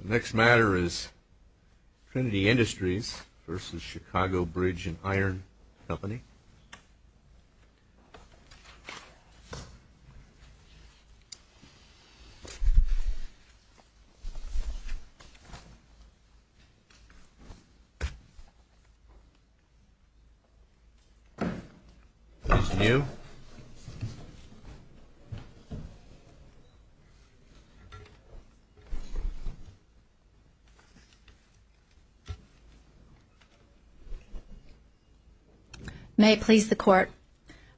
The next matter is Trinity Industries v. Chicago Bridge & Iron Company. This is new. May it please the Court.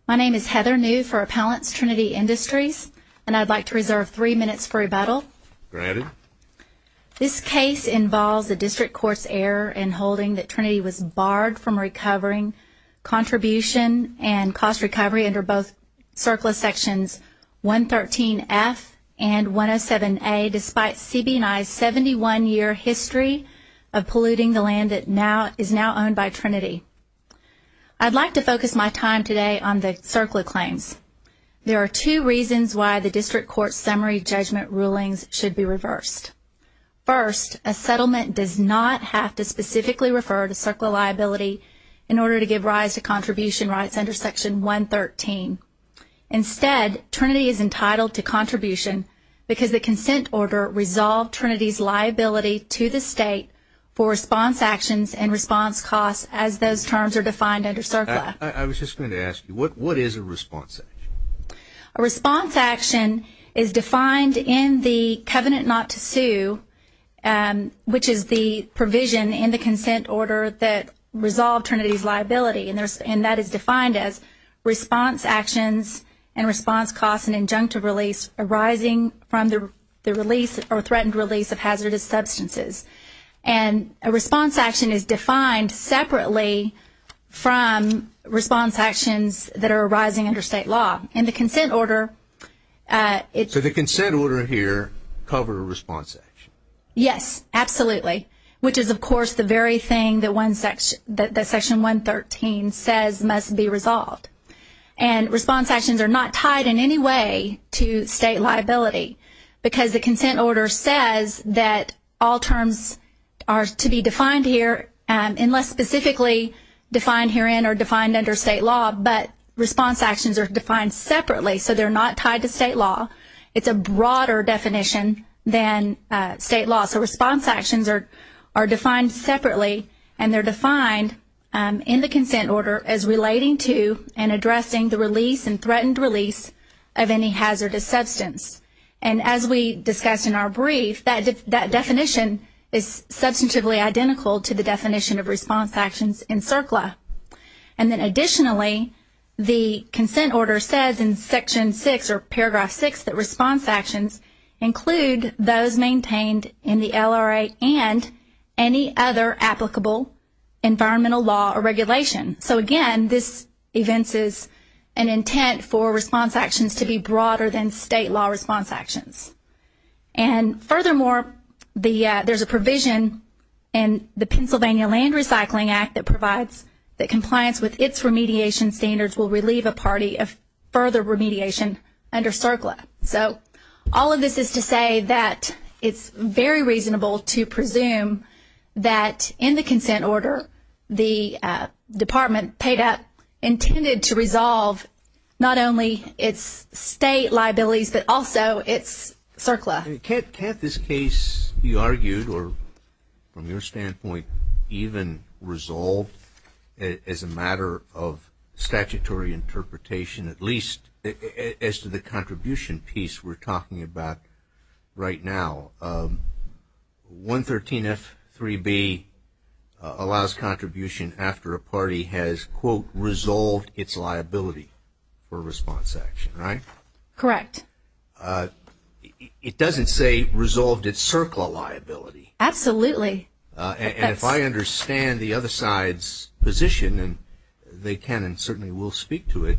My name is Heather New for Appellants, Trinity Industries, and I'd like to reserve three minutes for rebuttal. Granted. This case involves a district court's error in holding that Trinity was barred from recovering contribution and cost recovery under both AB&I's 71-year history of polluting the land that is now owned by Trinity. I'd like to focus my time today on the CERCLA claims. There are two reasons why the district court's summary judgment rulings should be reversed. First, a settlement does not have to specifically refer to CERCLA liability in order to give rise to contribution rights under Section 113. Instead, Trinity is entitled to contribution because the consent order resolved Trinity's liability to the state for response actions and response costs as those terms are defined under CERCLA. I was just going to ask you, what is a response action? A response action is defined in the covenant not to sue, which is the provision in the consent order that resolved Trinity's liability. And that is defined as response actions and response costs and injunctive release arising from the release or threatened release of hazardous substances. And a response action is defined separately from response actions that are arising under state law. In the consent order... So the consent order here covered a response action? Yes, absolutely, which is of course the very thing that Section 113 says must be resolved. And response actions are not tied in any way to state liability because the consent order says that all terms are to be defined here, unless specifically defined herein or defined under state law, but response actions are defined separately so they're not tied to state law. It's a broader definition than state law. So response actions are defined separately and they're defined in the consent order as relating to and addressing the release and threatened release of any hazardous substance. And as we discussed in our brief, that definition is substantively identical to the definition of response actions in CERCLA. And then additionally, the consent order says in Section 6 or Paragraph 6 that response actions include those maintained in the LRA and any other applicable environmental law or regulation. So again, this evinces an intent for response actions to be broader than state law response actions. And furthermore, there's a provision in the Pennsylvania Land Recycling Act that provides that compliance with its remediation standards will relieve a party of further remediation under CERCLA. So all of this is to say that it's very reasonable to presume that in the consent order, the department paid up, intended to resolve not only its state liabilities, but also its CERCLA. Can't this case, you argued, or from your standpoint, even resolve as a matter of statutory interpretation, at least as to the contribution piece we're talking about right now? 113F3B allows contribution after a party has, quote, resolved its liability for a response action, right? Correct. It doesn't say resolved its CERCLA liability. Absolutely. And if I understand the other side's position, and they can and certainly will speak to it,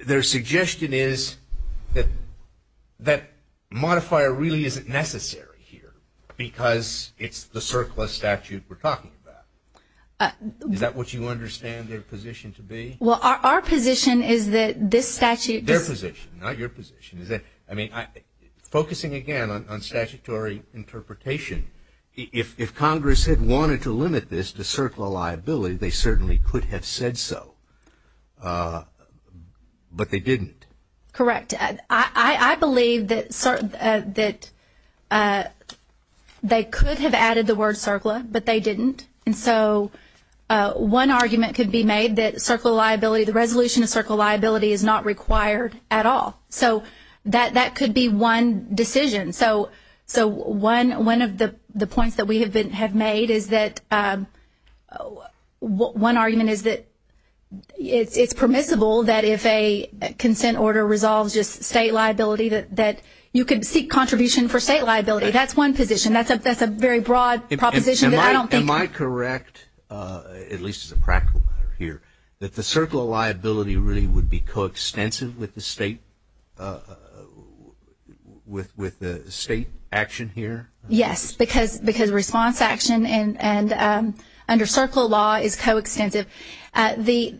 their suggestion is that that modifier really isn't necessary here because it's the CERCLA statute we're talking about. Is that what you understand their position to be? Well, our position is that this statute — Their position, not your position. I mean, focusing again on statutory interpretation, if Congress had wanted to limit this to CERCLA liability, they certainly could have said so, but they didn't. Correct. I believe that they could have added the word CERCLA, but they didn't. And so one argument could be made that CERCLA liability, the resolution of CERCLA liability, is not required at all. So that could be one decision. So one of the points that we have made is that one argument is that it's permissible that if a consent order resolves just state liability, that you could seek contribution for state liability. That's one position. That's a very broad proposition that I don't think — Am I correct, at least as a practical matter here, that the CERCLA liability really would be coextensive with the state action here? Yes, because response action under CERCLA law is coextensive. The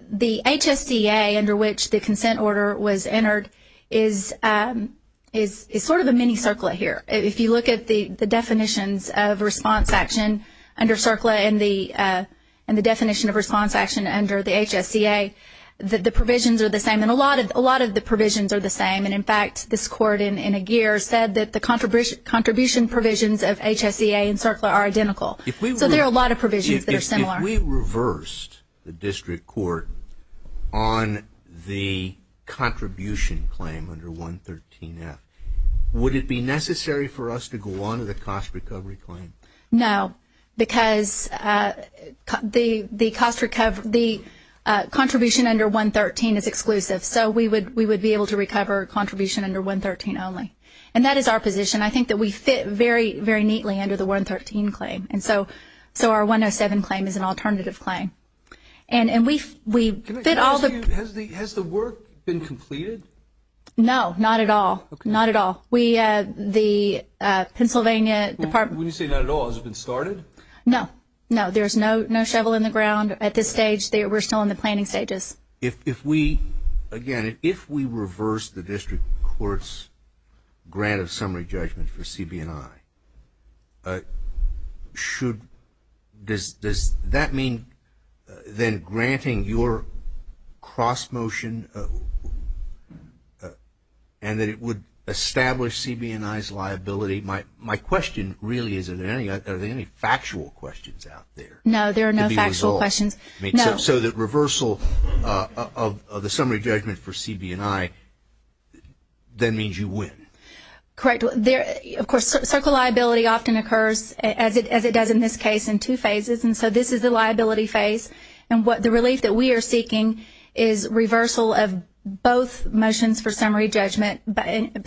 HSCA under which the consent order was entered is sort of a mini CERCLA here. If you look at the definitions of response action under CERCLA and the definition of response action under the HSCA, the provisions are the same, and a lot of the provisions are the same. And, in fact, this court in Aguirre said that the contribution provisions of HSCA and CERCLA are identical. So there are a lot of provisions that are similar. If we reversed the district court on the contribution claim under 113F, would it be necessary for us to go on to the cost recovery claim? No, because the contribution under 113 is exclusive, so we would be able to recover contribution under 113 only. And that is our position. I think that we fit very, very neatly under the 113 claim, and so our 107 claim is an alternative claim. And we fit all the – Has the work been completed? No, not at all. Not at all. The Pennsylvania Department – When you say not at all, has it been started? No. No, there's no shovel in the ground at this stage. We're still in the planning stages. If we – again, if we reverse the district court's grant of summary judgment for CB&I, should – does that mean then granting your cross-motion and that it would establish CB&I's liability? My question really is, are there any factual questions out there? No, there are no factual questions. So the reversal of the summary judgment for CB&I then means you win? Correct. Of course, circle liability often occurs, as it does in this case, in two phases. And so this is the liability phase. And the relief that we are seeking is reversal of both motions for summary judgment.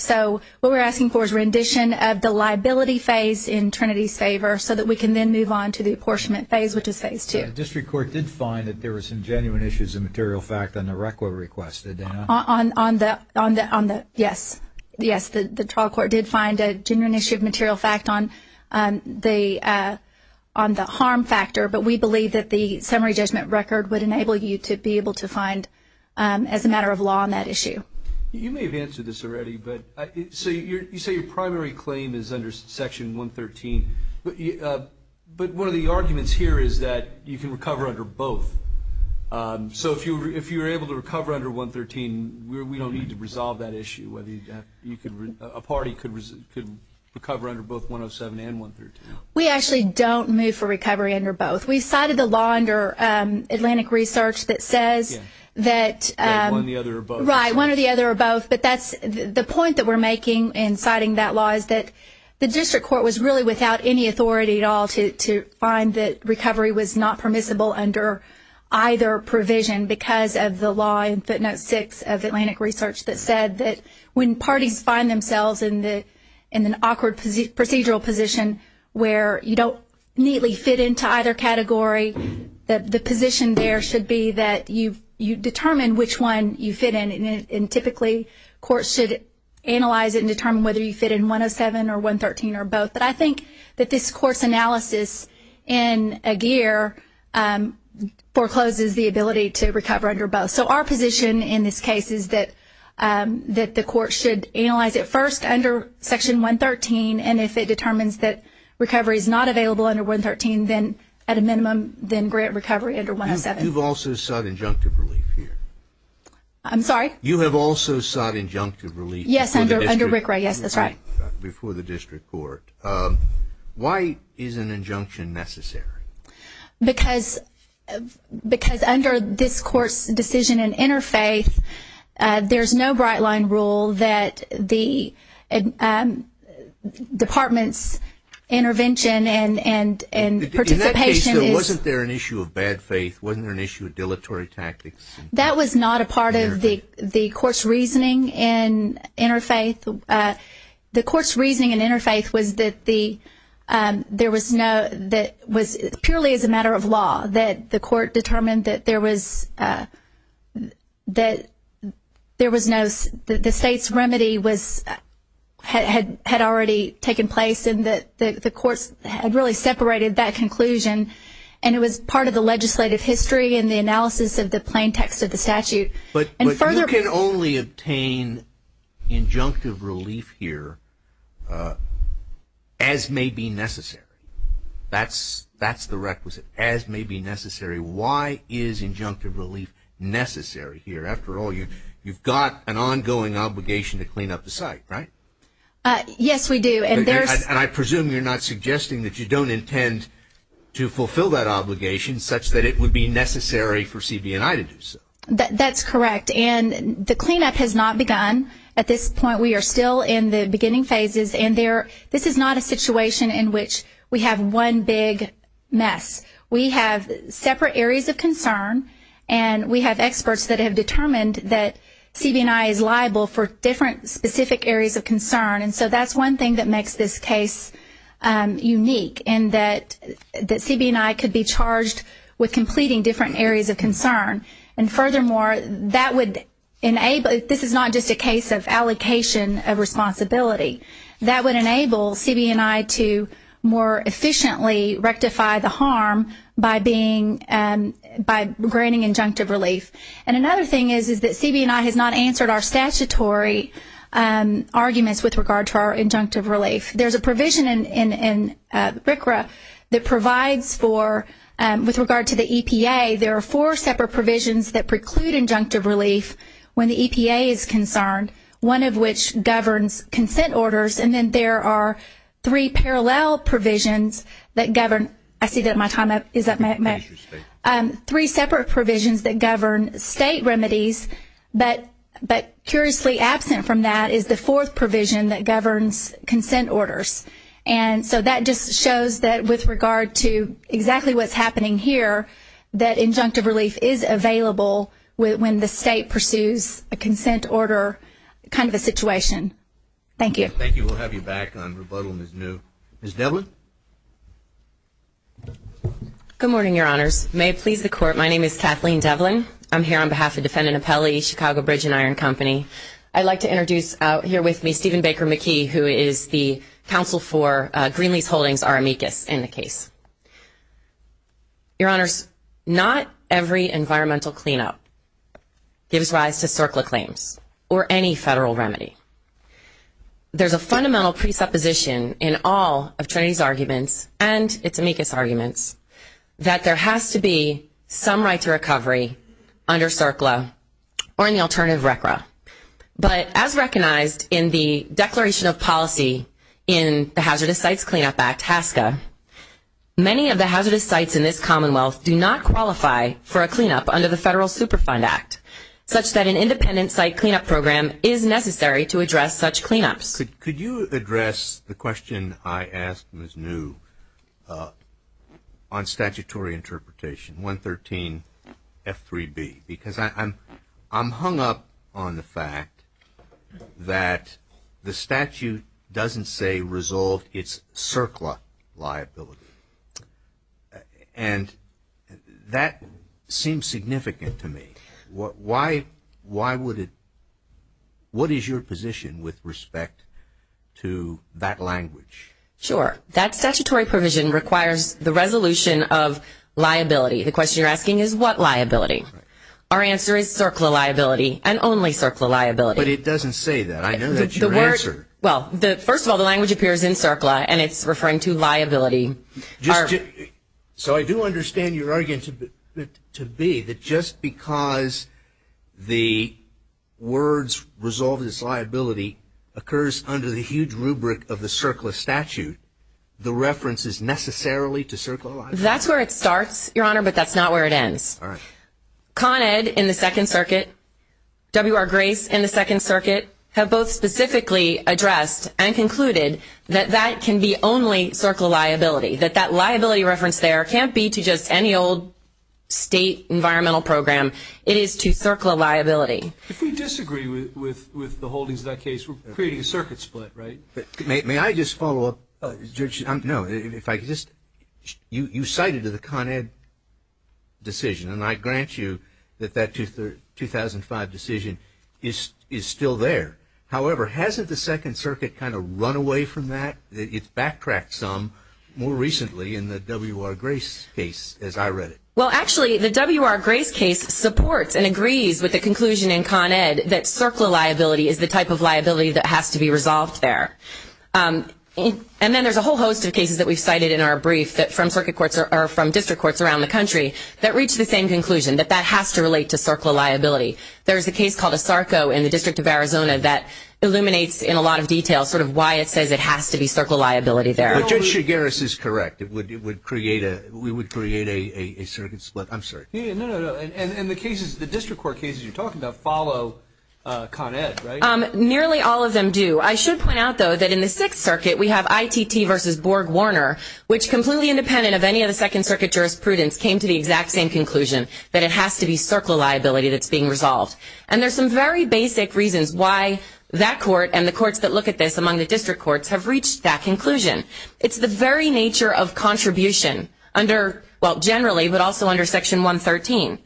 So what we're asking for is rendition of the liability phase in Trinity's favor so that we can then move on to the apportionment phase, which is phase two. The district court did find that there were some genuine issues of material fact on the RECWA request, did they not? On the – yes. Yes, the trial court did find a genuine issue of material fact on the harm factor. But we believe that the summary judgment record would enable you to be able to find, as a matter of law, on that issue. You may have answered this already, but – so you say your primary claim is under Section 113. But one of the arguments here is that you can recover under both. So if you were able to recover under 113, we don't need to resolve that issue. A party could recover under both 107 and 113. We actually don't move for recovery under both. We cited a law under Atlantic Research that says that – One or the other or both. Right, one or the other or both. But that's – the point that we're making in citing that law is that the district court was really without any authority at all to find that recovery was not permissible under either provision because of the law in footnote six of Atlantic Research that said that when parties find themselves in an awkward procedural position where you don't neatly fit into either category, that the position there should be that you determine which one you fit in and typically courts should analyze it and determine whether you fit in 107 or 113 or both. But I think that this court's analysis in a gear forecloses the ability to recover under both. So our position in this case is that the court should analyze it first under Section 113 and if it determines that recovery is not available under 113, then at a minimum, then grant recovery under 107. You've also sought injunctive relief here. I'm sorry? You have also sought injunctive relief. Yes, under RICRA. Yes, that's right. Before the district court. Why is an injunction necessary? Because under this court's decision in interfaith, there's no bright line rule that the department's intervention and participation is... In that case, wasn't there an issue of bad faith? Wasn't there an issue of dilatory tactics? That was not a part of the court's reasoning in interfaith. The court's reasoning in interfaith was that there was no... that it was purely as a matter of law that the court determined that there was no... that the state's remedy had already taken place and that the courts had really separated that conclusion and it was part of the legislative history and the analysis of the plain text of the statute. But you can only obtain injunctive relief here as may be necessary. That's the requisite, as may be necessary. Why is injunctive relief necessary here? After all, you've got an ongoing obligation to clean up the site, right? Yes, we do. And I presume you're not suggesting that you don't intend to fulfill that obligation such that it would be necessary for CB&I to do so. That's correct. And the cleanup has not begun at this point. We are still in the beginning phases. And this is not a situation in which we have one big mess. We have separate areas of concern, and we have experts that have determined that CB&I is liable for different specific areas of concern. And so that's one thing that makes this case unique in that CB&I could be charged with completing different areas of concern. And furthermore, this is not just a case of allocation of responsibility. That would enable CB&I to more efficiently rectify the harm by granting injunctive relief. And another thing is that CB&I has not answered our statutory arguments with regard to our injunctive relief. There's a provision in RCRA that provides for, with regard to the EPA, there are four separate provisions that preclude injunctive relief when the EPA is concerned, one of which governs consent orders. And then there are three parallel provisions that govern. I see that my time is up. Three separate provisions that govern state remedies, but curiously absent from that is the fourth provision that governs consent orders. And so that just shows that with regard to exactly what's happening here, that injunctive relief is available when the state pursues a consent order kind of a situation. Thank you. Thank you. We'll have you back on rebuttal as new. Ms. Devlin? Good morning, Your Honors. May it please the Court, my name is Kathleen Devlin. I'm here on behalf of Defendant Appellee, Chicago Bridge & Iron Company. I'd like to introduce out here with me Stephen Baker McKee, who is the counsel for Greenlease Holdings, our amicus in the case. Your Honors, not every environmental cleanup gives rise to CERCLA claims or any federal remedy. There's a fundamental presupposition in all of Trinity's arguments and its amicus arguments that there has to be some right to recovery under CERCLA or in the alternative RCRA. But as recognized in the Declaration of Policy in the Hazardous Sites Cleanup Act, HASCA, many of the hazardous sites in this commonwealth do not qualify for a cleanup under the Federal Superfund Act, such that an independent site cleanup program is necessary to address such cleanups. Could you address the question I asked Ms. New on statutory interpretation, 113F3B? Because I'm hung up on the fact that the statute doesn't say resolve its CERCLA liability. And that seems significant to me. Why would it? What is your position with respect to that language? Sure. That statutory provision requires the resolution of liability. The question you're asking is what liability? Our answer is CERCLA liability and only CERCLA liability. But it doesn't say that. I know that's your answer. Well, first of all, the language appears in CERCLA and it's referring to liability. So I do understand your argument to be that just because the words resolve this liability occurs under the huge rubric of the CERCLA statute, the reference is necessarily to CERCLA liability. That's where it starts, Your Honor, but that's not where it ends. Con Ed in the Second Circuit, W.R. Grace in the Second Circuit, have both specifically addressed and concluded that that can be only CERCLA liability, that that liability reference there can't be to just any old state environmental program. It is to CERCLA liability. If we disagree with the holdings of that case, we're creating a circuit split, right? May I just follow up, Judge? No, if I could just – you cited the Con Ed decision, and I grant you that that 2005 decision is still there. However, hasn't the Second Circuit kind of run away from that? It's backtracked some more recently in the W.R. Grace case, as I read it. Well, actually, the W.R. Grace case supports and agrees with the conclusion in Con Ed that CERCLA liability is the type of liability that has to be resolved there. And then there's a whole host of cases that we've cited in our brief that from circuit courts or from district courts around the country that reach the same conclusion, that that has to relate to CERCLA liability. There's a case called Asarco in the District of Arizona that illuminates in a lot of detail sort of why it says it has to be CERCLA liability there. Well, Judge Chigueras is correct. It would create a – we would create a circuit split. I'm sorry. No, no, no, and the cases, the district court cases you're talking about follow Con Ed, right? Nearly all of them do. I should point out, though, that in the Sixth Circuit we have ITT versus Borg-Warner, which completely independent of any of the Second Circuit jurisprudence, came to the exact same conclusion, that it has to be CERCLA liability that's being resolved. And there's some very basic reasons why that court and the courts that look at this among the district courts have reached that conclusion. It's the very nature of contribution under – well, generally, but also under Section 113.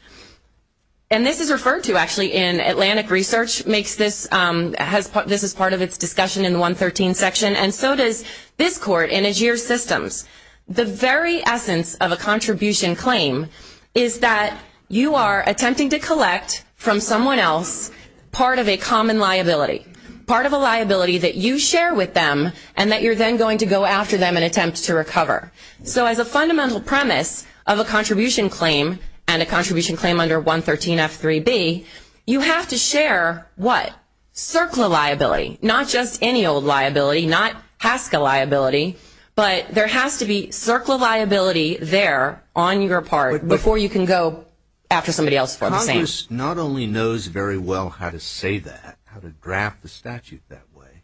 And this is referred to, actually, in Atlantic Research makes this – this is part of its discussion in the 113 section, and so does this court in AGIER Systems. The very essence of a contribution claim is that you are attempting to collect from someone else part of a common liability, part of a liability that you share with them and that you're then going to go after them and attempt to recover. So as a fundamental premise of a contribution claim and a contribution claim under 113F3B, you have to share what? CERCLA liability. Not just any old liability, not HASCA liability, but there has to be CERCLA liability there on your part before you can go after somebody else for the same. Congress not only knows very well how to say that, how to draft the statute that way,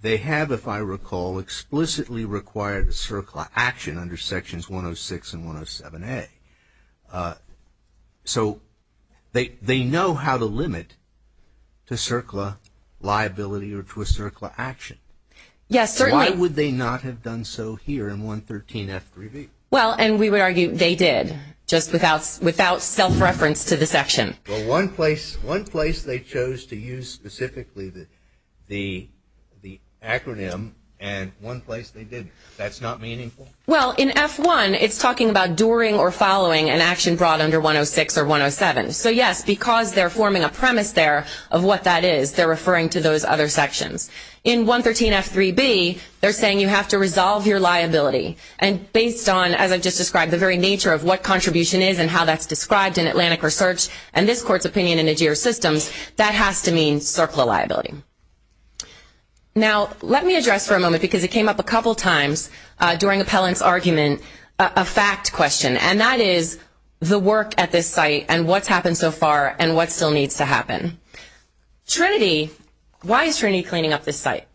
they have, if I recall, explicitly required a CERCLA action under Sections 106 and 107A. So they know how to limit to CERCLA liability or to a CERCLA action. Yes, certainly. Why would they not have done so here in 113F3B? Well, and we would argue they did, just without self-reference to the section. Well, one place they chose to use specifically the acronym and one place they didn't. That's not meaningful? Well, in F1, it's talking about during or following an action brought under 106 or 107. So, yes, because they're forming a premise there of what that is, they're referring to those other sections. In 113F3B, they're saying you have to resolve your liability. And based on, as I've just described, the very nature of what contribution is and how that's described in Atlantic Research and this Court's opinion in AGIR systems, that has to mean CERCLA liability. Now, let me address for a moment, because it came up a couple times during Appellant's argument, a fact question, and that is the work at this site and what's happened so far and what still needs to happen. Trinity, why is Trinity cleaning up this site?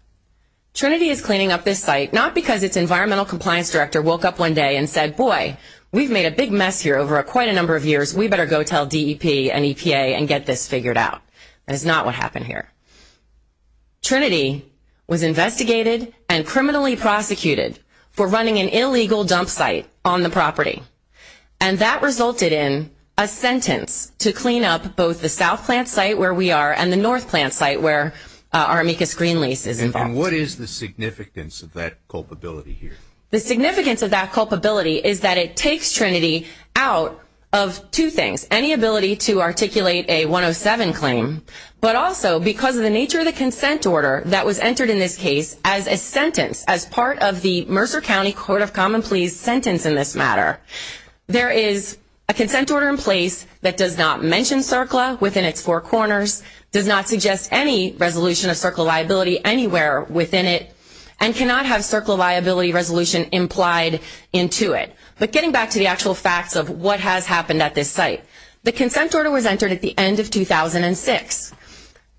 Trinity is cleaning up this site not because its Environmental Compliance Director woke up one day and said, boy, we've made a big mess here over quite a number of years. We better go tell DEP and EPA and get this figured out. That is not what happened here. Trinity was investigated and criminally prosecuted for running an illegal dump site on the property. And that resulted in a sentence to clean up both the south plant site where we are and the north plant site where our amicus green lease is involved. And what is the significance of that culpability here? The significance of that culpability is that it takes Trinity out of two things, any ability to articulate a 107 claim, but also because of the nature of the consent order that was entered in this case as a sentence, as part of the Mercer County Court of Common Pleas sentence in this matter. There is a consent order in place that does not mention CERCLA within its four corners, does not suggest any resolution of CERCLA liability anywhere within it, and cannot have CERCLA liability resolution implied into it. But getting back to the actual facts of what has happened at this site, the consent order was entered at the end of 2006.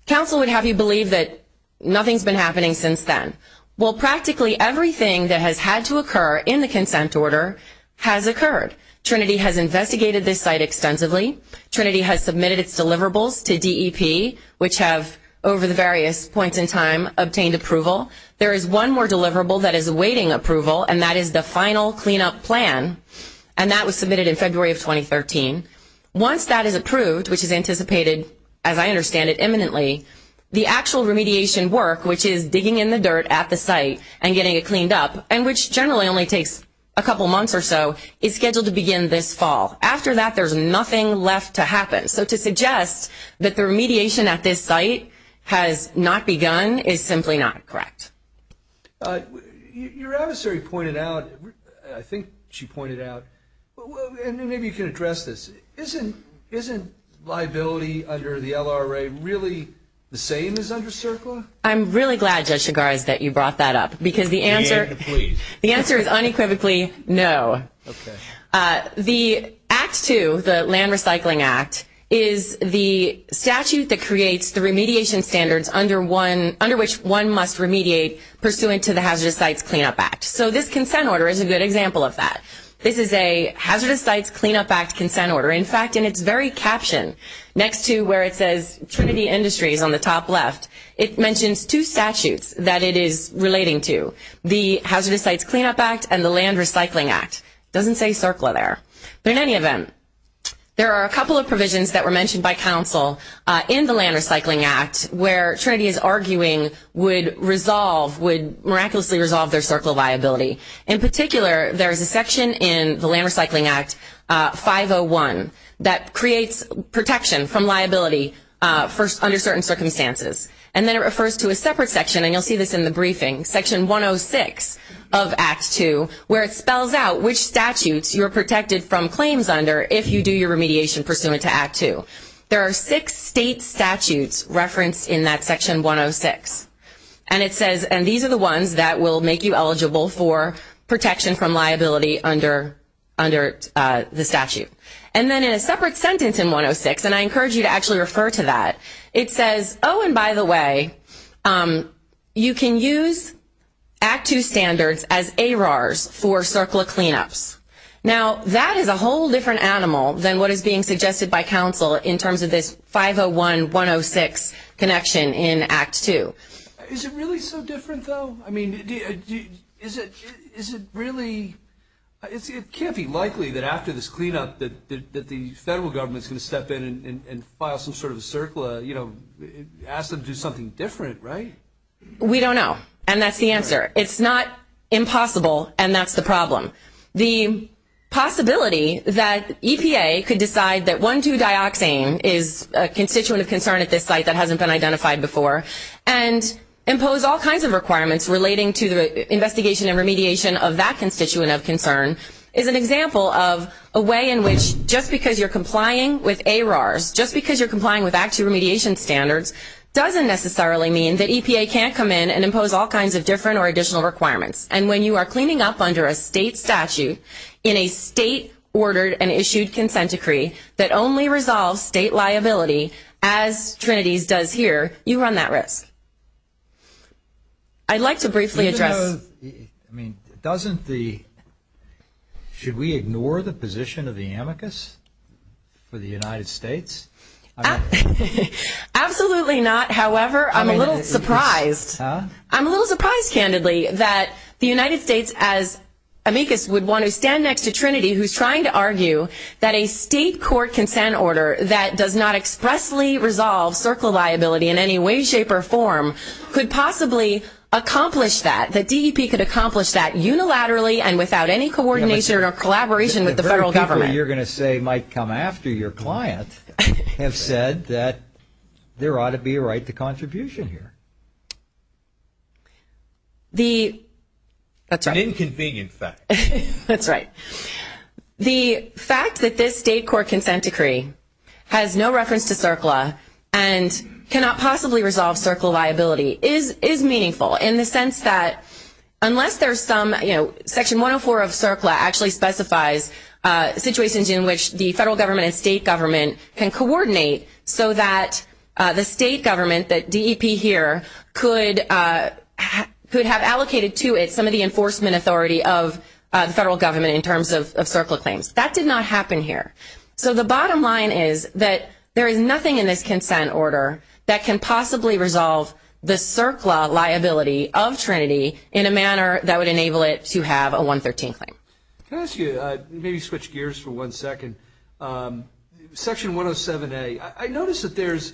Council would have you believe that nothing has been happening since then. Well, practically everything that has had to occur in the consent order has occurred. Trinity has investigated this site extensively. Trinity has submitted its deliverables to DEP, which have, over the various points in time, obtained approval. There is one more deliverable that is awaiting approval, and that is the final cleanup plan, and that was submitted in February of 2013. Once that is approved, which is anticipated, as I understand it, imminently, the actual remediation work, which is digging in the dirt at the site and getting it cleaned up, and which generally only takes a couple months or so, is scheduled to begin this fall. After that, there is nothing left to happen. So to suggest that the remediation at this site has not begun is simply not correct. Your adversary pointed out, I think she pointed out, and maybe you can address this, isn't liability under the LRA really the same as under CERCLA? I'm really glad, Judge Chigars, that you brought that up, because the answer is unequivocally no. The Act 2, the Land Recycling Act, is the statute that creates the remediation standards under which one must remediate pursuant to the Hazardous Sites Cleanup Act. So this consent order is a good example of that. This is a Hazardous Sites Cleanup Act consent order. In fact, in its very caption, next to where it says Trinity Industries on the top left, it mentions two statutes that it is relating to, the Hazardous Sites Cleanup Act and the Land Recycling Act. It doesn't say CERCLA there, but in any event, there are a couple of provisions that were mentioned by counsel in the Land Recycling Act where Trinity is arguing would miraculously resolve their CERCLA liability. In particular, there is a section in the Land Recycling Act 501 that creates protection from liability under certain circumstances, and then it refers to a separate section, and you'll see this in the briefing, section 106 of Act 2, where it spells out which statutes you're protected from claims under if you do your remediation pursuant to Act 2. There are six state statutes referenced in that section 106, and it says these are the ones that will make you eligible for protection from liability under the statute. And then in a separate sentence in 106, and I encourage you to actually refer to that, it says, oh, and by the way, you can use Act 2 standards as ARARs for CERCLA cleanups. Now, that is a whole different animal than what is being suggested by counsel in terms of this 501-106 connection in Act 2. Is it really so different, though? I mean, is it really – it can't be likely that after this cleanup that the federal government is going to step in and file some sort of CERCLA, you know, ask them to do something different, right? We don't know, and that's the answer. It's not impossible, and that's the problem. The possibility that EPA could decide that 1,2-dioxane is a constituent of concern at this site that hasn't been identified before and impose all kinds of requirements relating to the investigation and remediation of that constituent of concern is an example of a way in which just because you're complying with ARARs, just because you're complying with Act 2 remediation standards, doesn't necessarily mean that EPA can't come in and impose all kinds of different or additional requirements. And when you are cleaning up under a state statute in a state-ordered and issued consent decree that only resolves state liability, as Trinity's does here, you run that risk. I'd like to briefly address – I mean, doesn't the – should we ignore the position of the amicus for the United States? Absolutely not. However, I'm a little surprised. I'm a little surprised, candidly, that the United States, as amicus, would want to stand next to Trinity who's trying to argue that a state court consent order that does not expressly resolve CERCLA liability in any way, shape, or form could possibly accomplish that, that DEP could accomplish that unilaterally and without any coordination or collaboration with the federal government. The very people you're going to say might come after your client have said that there ought to be a right to contribution here. The – that's right. An inconvenient fact. That's right. The fact that this state court consent decree has no reference to CERCLA and cannot possibly resolve CERCLA liability is meaningful in the sense that unless there's some – Section 104 of CERCLA actually specifies situations in which the federal government and state government can coordinate so that the state government, that DEP here, could have allocated to it some of the enforcement authority of the federal government in terms of CERCLA claims. That did not happen here. So the bottom line is that there is nothing in this consent order that can possibly resolve the CERCLA liability of Trinity in a manner that would enable it to have a 113 claim. Can I ask you – maybe switch gears for one second. Section 107A, I notice that there's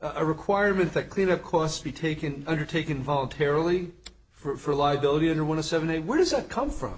a requirement that cleanup costs be undertaken voluntarily for liability under 107A. Where does that come from?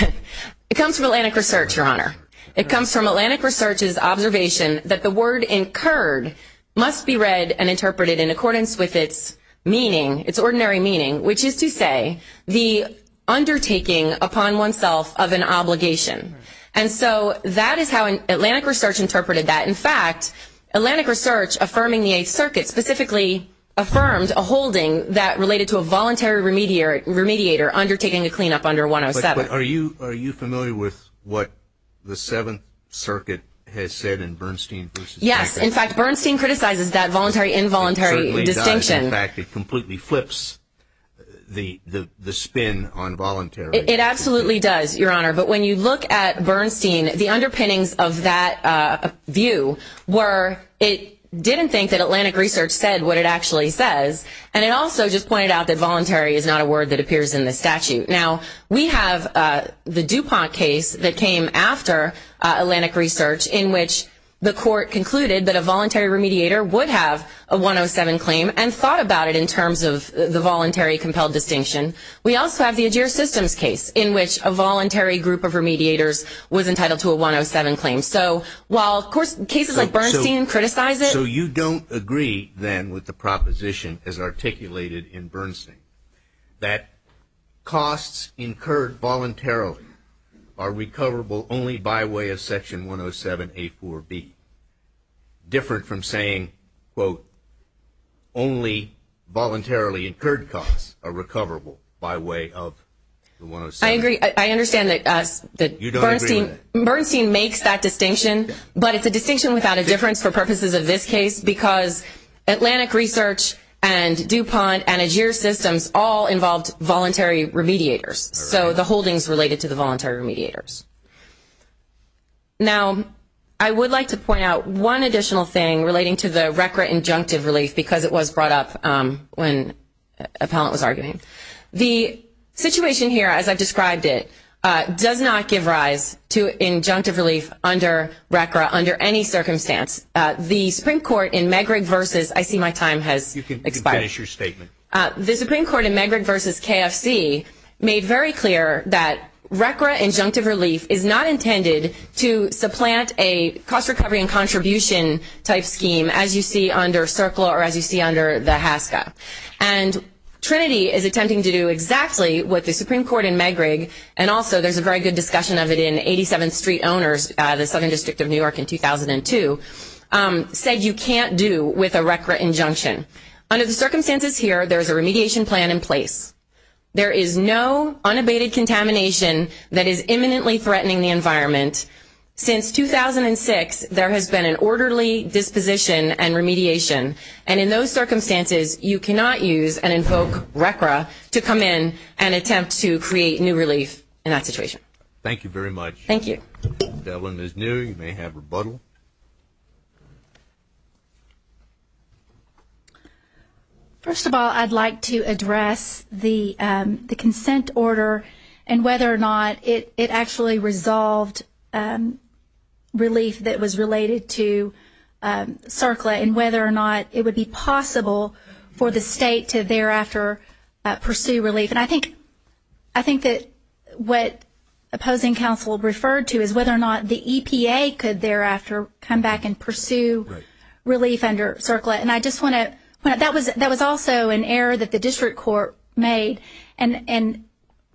It comes from Atlantic Research, Your Honor. It comes from Atlantic Research's observation that the word incurred must be read and interpreted in accordance with its meaning, its ordinary meaning, which is to say the undertaking upon oneself of an obligation. And so that is how Atlantic Research interpreted that. In fact, Atlantic Research, affirming the Eighth Circuit, specifically affirmed a holding that related to a voluntary remediator undertaking a cleanup under 107. Are you familiar with what the Seventh Circuit has said in Bernstein v. Packer? Yes. In fact, Bernstein criticizes that voluntary-involuntary distinction. It certainly does. In fact, it completely flips the spin on voluntary. It absolutely does, Your Honor. But when you look at Bernstein, the underpinnings of that view were it didn't think that Atlantic Research said what it actually says. And it also just pointed out that voluntary is not a word that appears in the statute. Now, we have the DuPont case that came after Atlantic Research in which the court concluded that a voluntary remediator would have a 107 claim and thought about it in terms of the voluntary-compelled distinction. We also have the AGIER systems case in which a voluntary group of remediators was entitled to a 107 claim. So while, of course, cases like Bernstein criticize it. So you don't agree then with the proposition as articulated in Bernstein that costs incurred voluntarily are recoverable only by way of Section 107A4B, different from saying, quote, only voluntarily incurred costs are recoverable by way of the 107. I agree. I understand that Bernstein makes that distinction. But it's a distinction without a difference for purposes of this case because Atlantic Research and DuPont and AGIER systems all involved voluntary remediators, so the holdings related to the voluntary remediators. Now, I would like to point out one additional thing relating to the RCRA injunctive relief because it was brought up when Appellant was arguing. The situation here, as I've described it, does not give rise to injunctive relief under RCRA under any circumstance. The Supreme Court in Megrig versus – I see my time has expired. You can finish your statement. The Supreme Court in Megrig versus KFC made very clear that RCRA injunctive relief is not intended to supplant a cost recovery and contribution type scheme, as you see under CERCLA or as you see under the HASCA. And Trinity is attempting to do exactly what the Supreme Court in Megrig, and also there's a very good discussion of it in 87th Street Owners, the Southern District of New York in 2002, said you can't do with a RCRA injunction. Under the circumstances here, there's a remediation plan in place. There is no unabated contamination that is imminently threatening the environment. Since 2006, there has been an orderly disposition and remediation, and in those circumstances, you cannot use and invoke RCRA to come in and attempt to create new relief in that situation. Thank you very much. Thank you. Devlin is new. You may have rebuttal. First of all, I'd like to address the consent order and whether or not it actually resolved relief that was related to CERCLA and whether or not it would be possible for the state to thereafter pursue relief. And I think that what opposing counsel referred to is whether or not the EPA could thereafter come back and pursue relief under CERCLA. And I just want to point out that was also an error that the district court made, and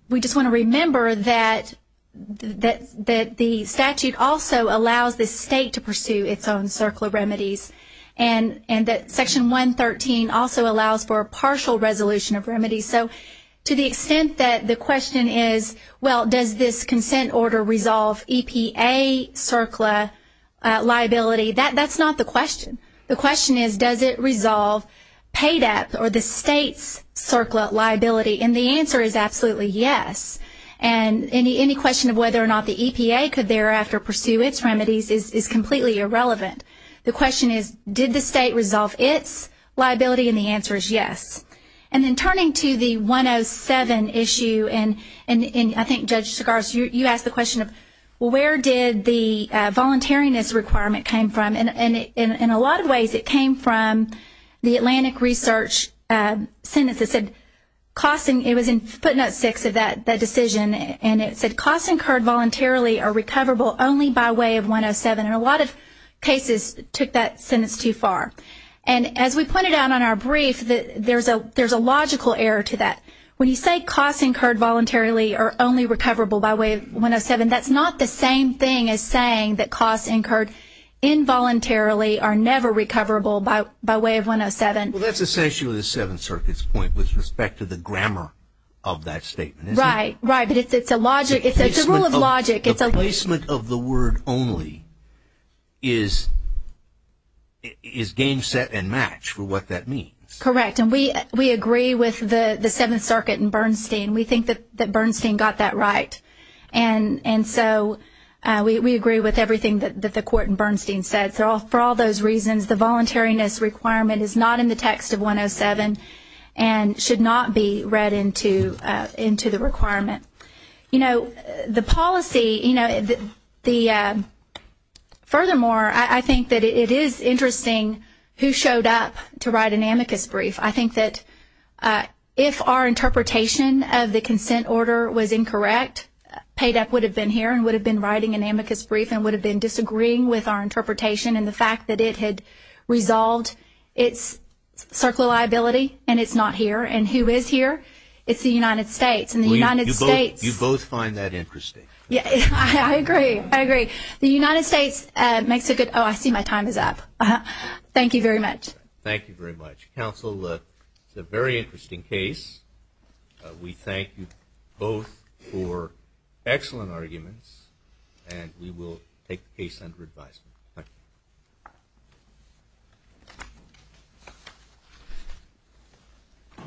we just want to remember that the statute also allows the state to pursue its own CERCLA remedies and that Section 113 also allows for a partial resolution of remedies. So to the extent that the question is, well, does this consent order resolve EPA CERCLA liability, that's not the question. The question is, does it resolve PADEP or the state's CERCLA liability? And the answer is absolutely yes. And any question of whether or not the EPA could thereafter pursue its remedies is completely irrelevant. The question is, did the state resolve its liability? And the answer is yes. And then turning to the 107 issue, and I think, Judge Sigars, you asked the question of where did the voluntariness requirement come from. And in a lot of ways it came from the Atlantic Research sentence that said, it was in footnote 6 of that decision, and it said costs incurred voluntarily are recoverable only by way of 107. And a lot of cases took that sentence too far. And as we pointed out on our brief, there's a logical error to that. When you say costs incurred voluntarily are only recoverable by way of 107, that's not the same thing as saying that costs incurred involuntarily are never recoverable by way of 107. Well, that's essentially the Seventh Circuit's point with respect to the grammar of that statement, isn't it? Right, right. But it's a rule of logic. The placement of the word only is game, set, and match for what that means. Correct. And we agree with the Seventh Circuit and Bernstein. We think that Bernstein got that right. And so we agree with everything that the court in Bernstein said. For all those reasons, the voluntariness requirement is not in the text of 107 and should not be read into the requirement. You know, the policy, you know, furthermore, I think that it is interesting who showed up to write an amicus brief. I think that if our interpretation of the consent order was incorrect, PAYDEP would have been here and would have been writing an amicus brief and would have been disagreeing with our interpretation and the fact that it had resolved its circle liability and it's not here, and who is here? It's the United States. You both find that interesting. I agree. I agree. The United States makes a good oh, I see my time is up. Thank you very much. Thank you very much. Counsel, it's a very interesting case. We thank you both for excellent arguments, and we will take the case under advisement. Thank you.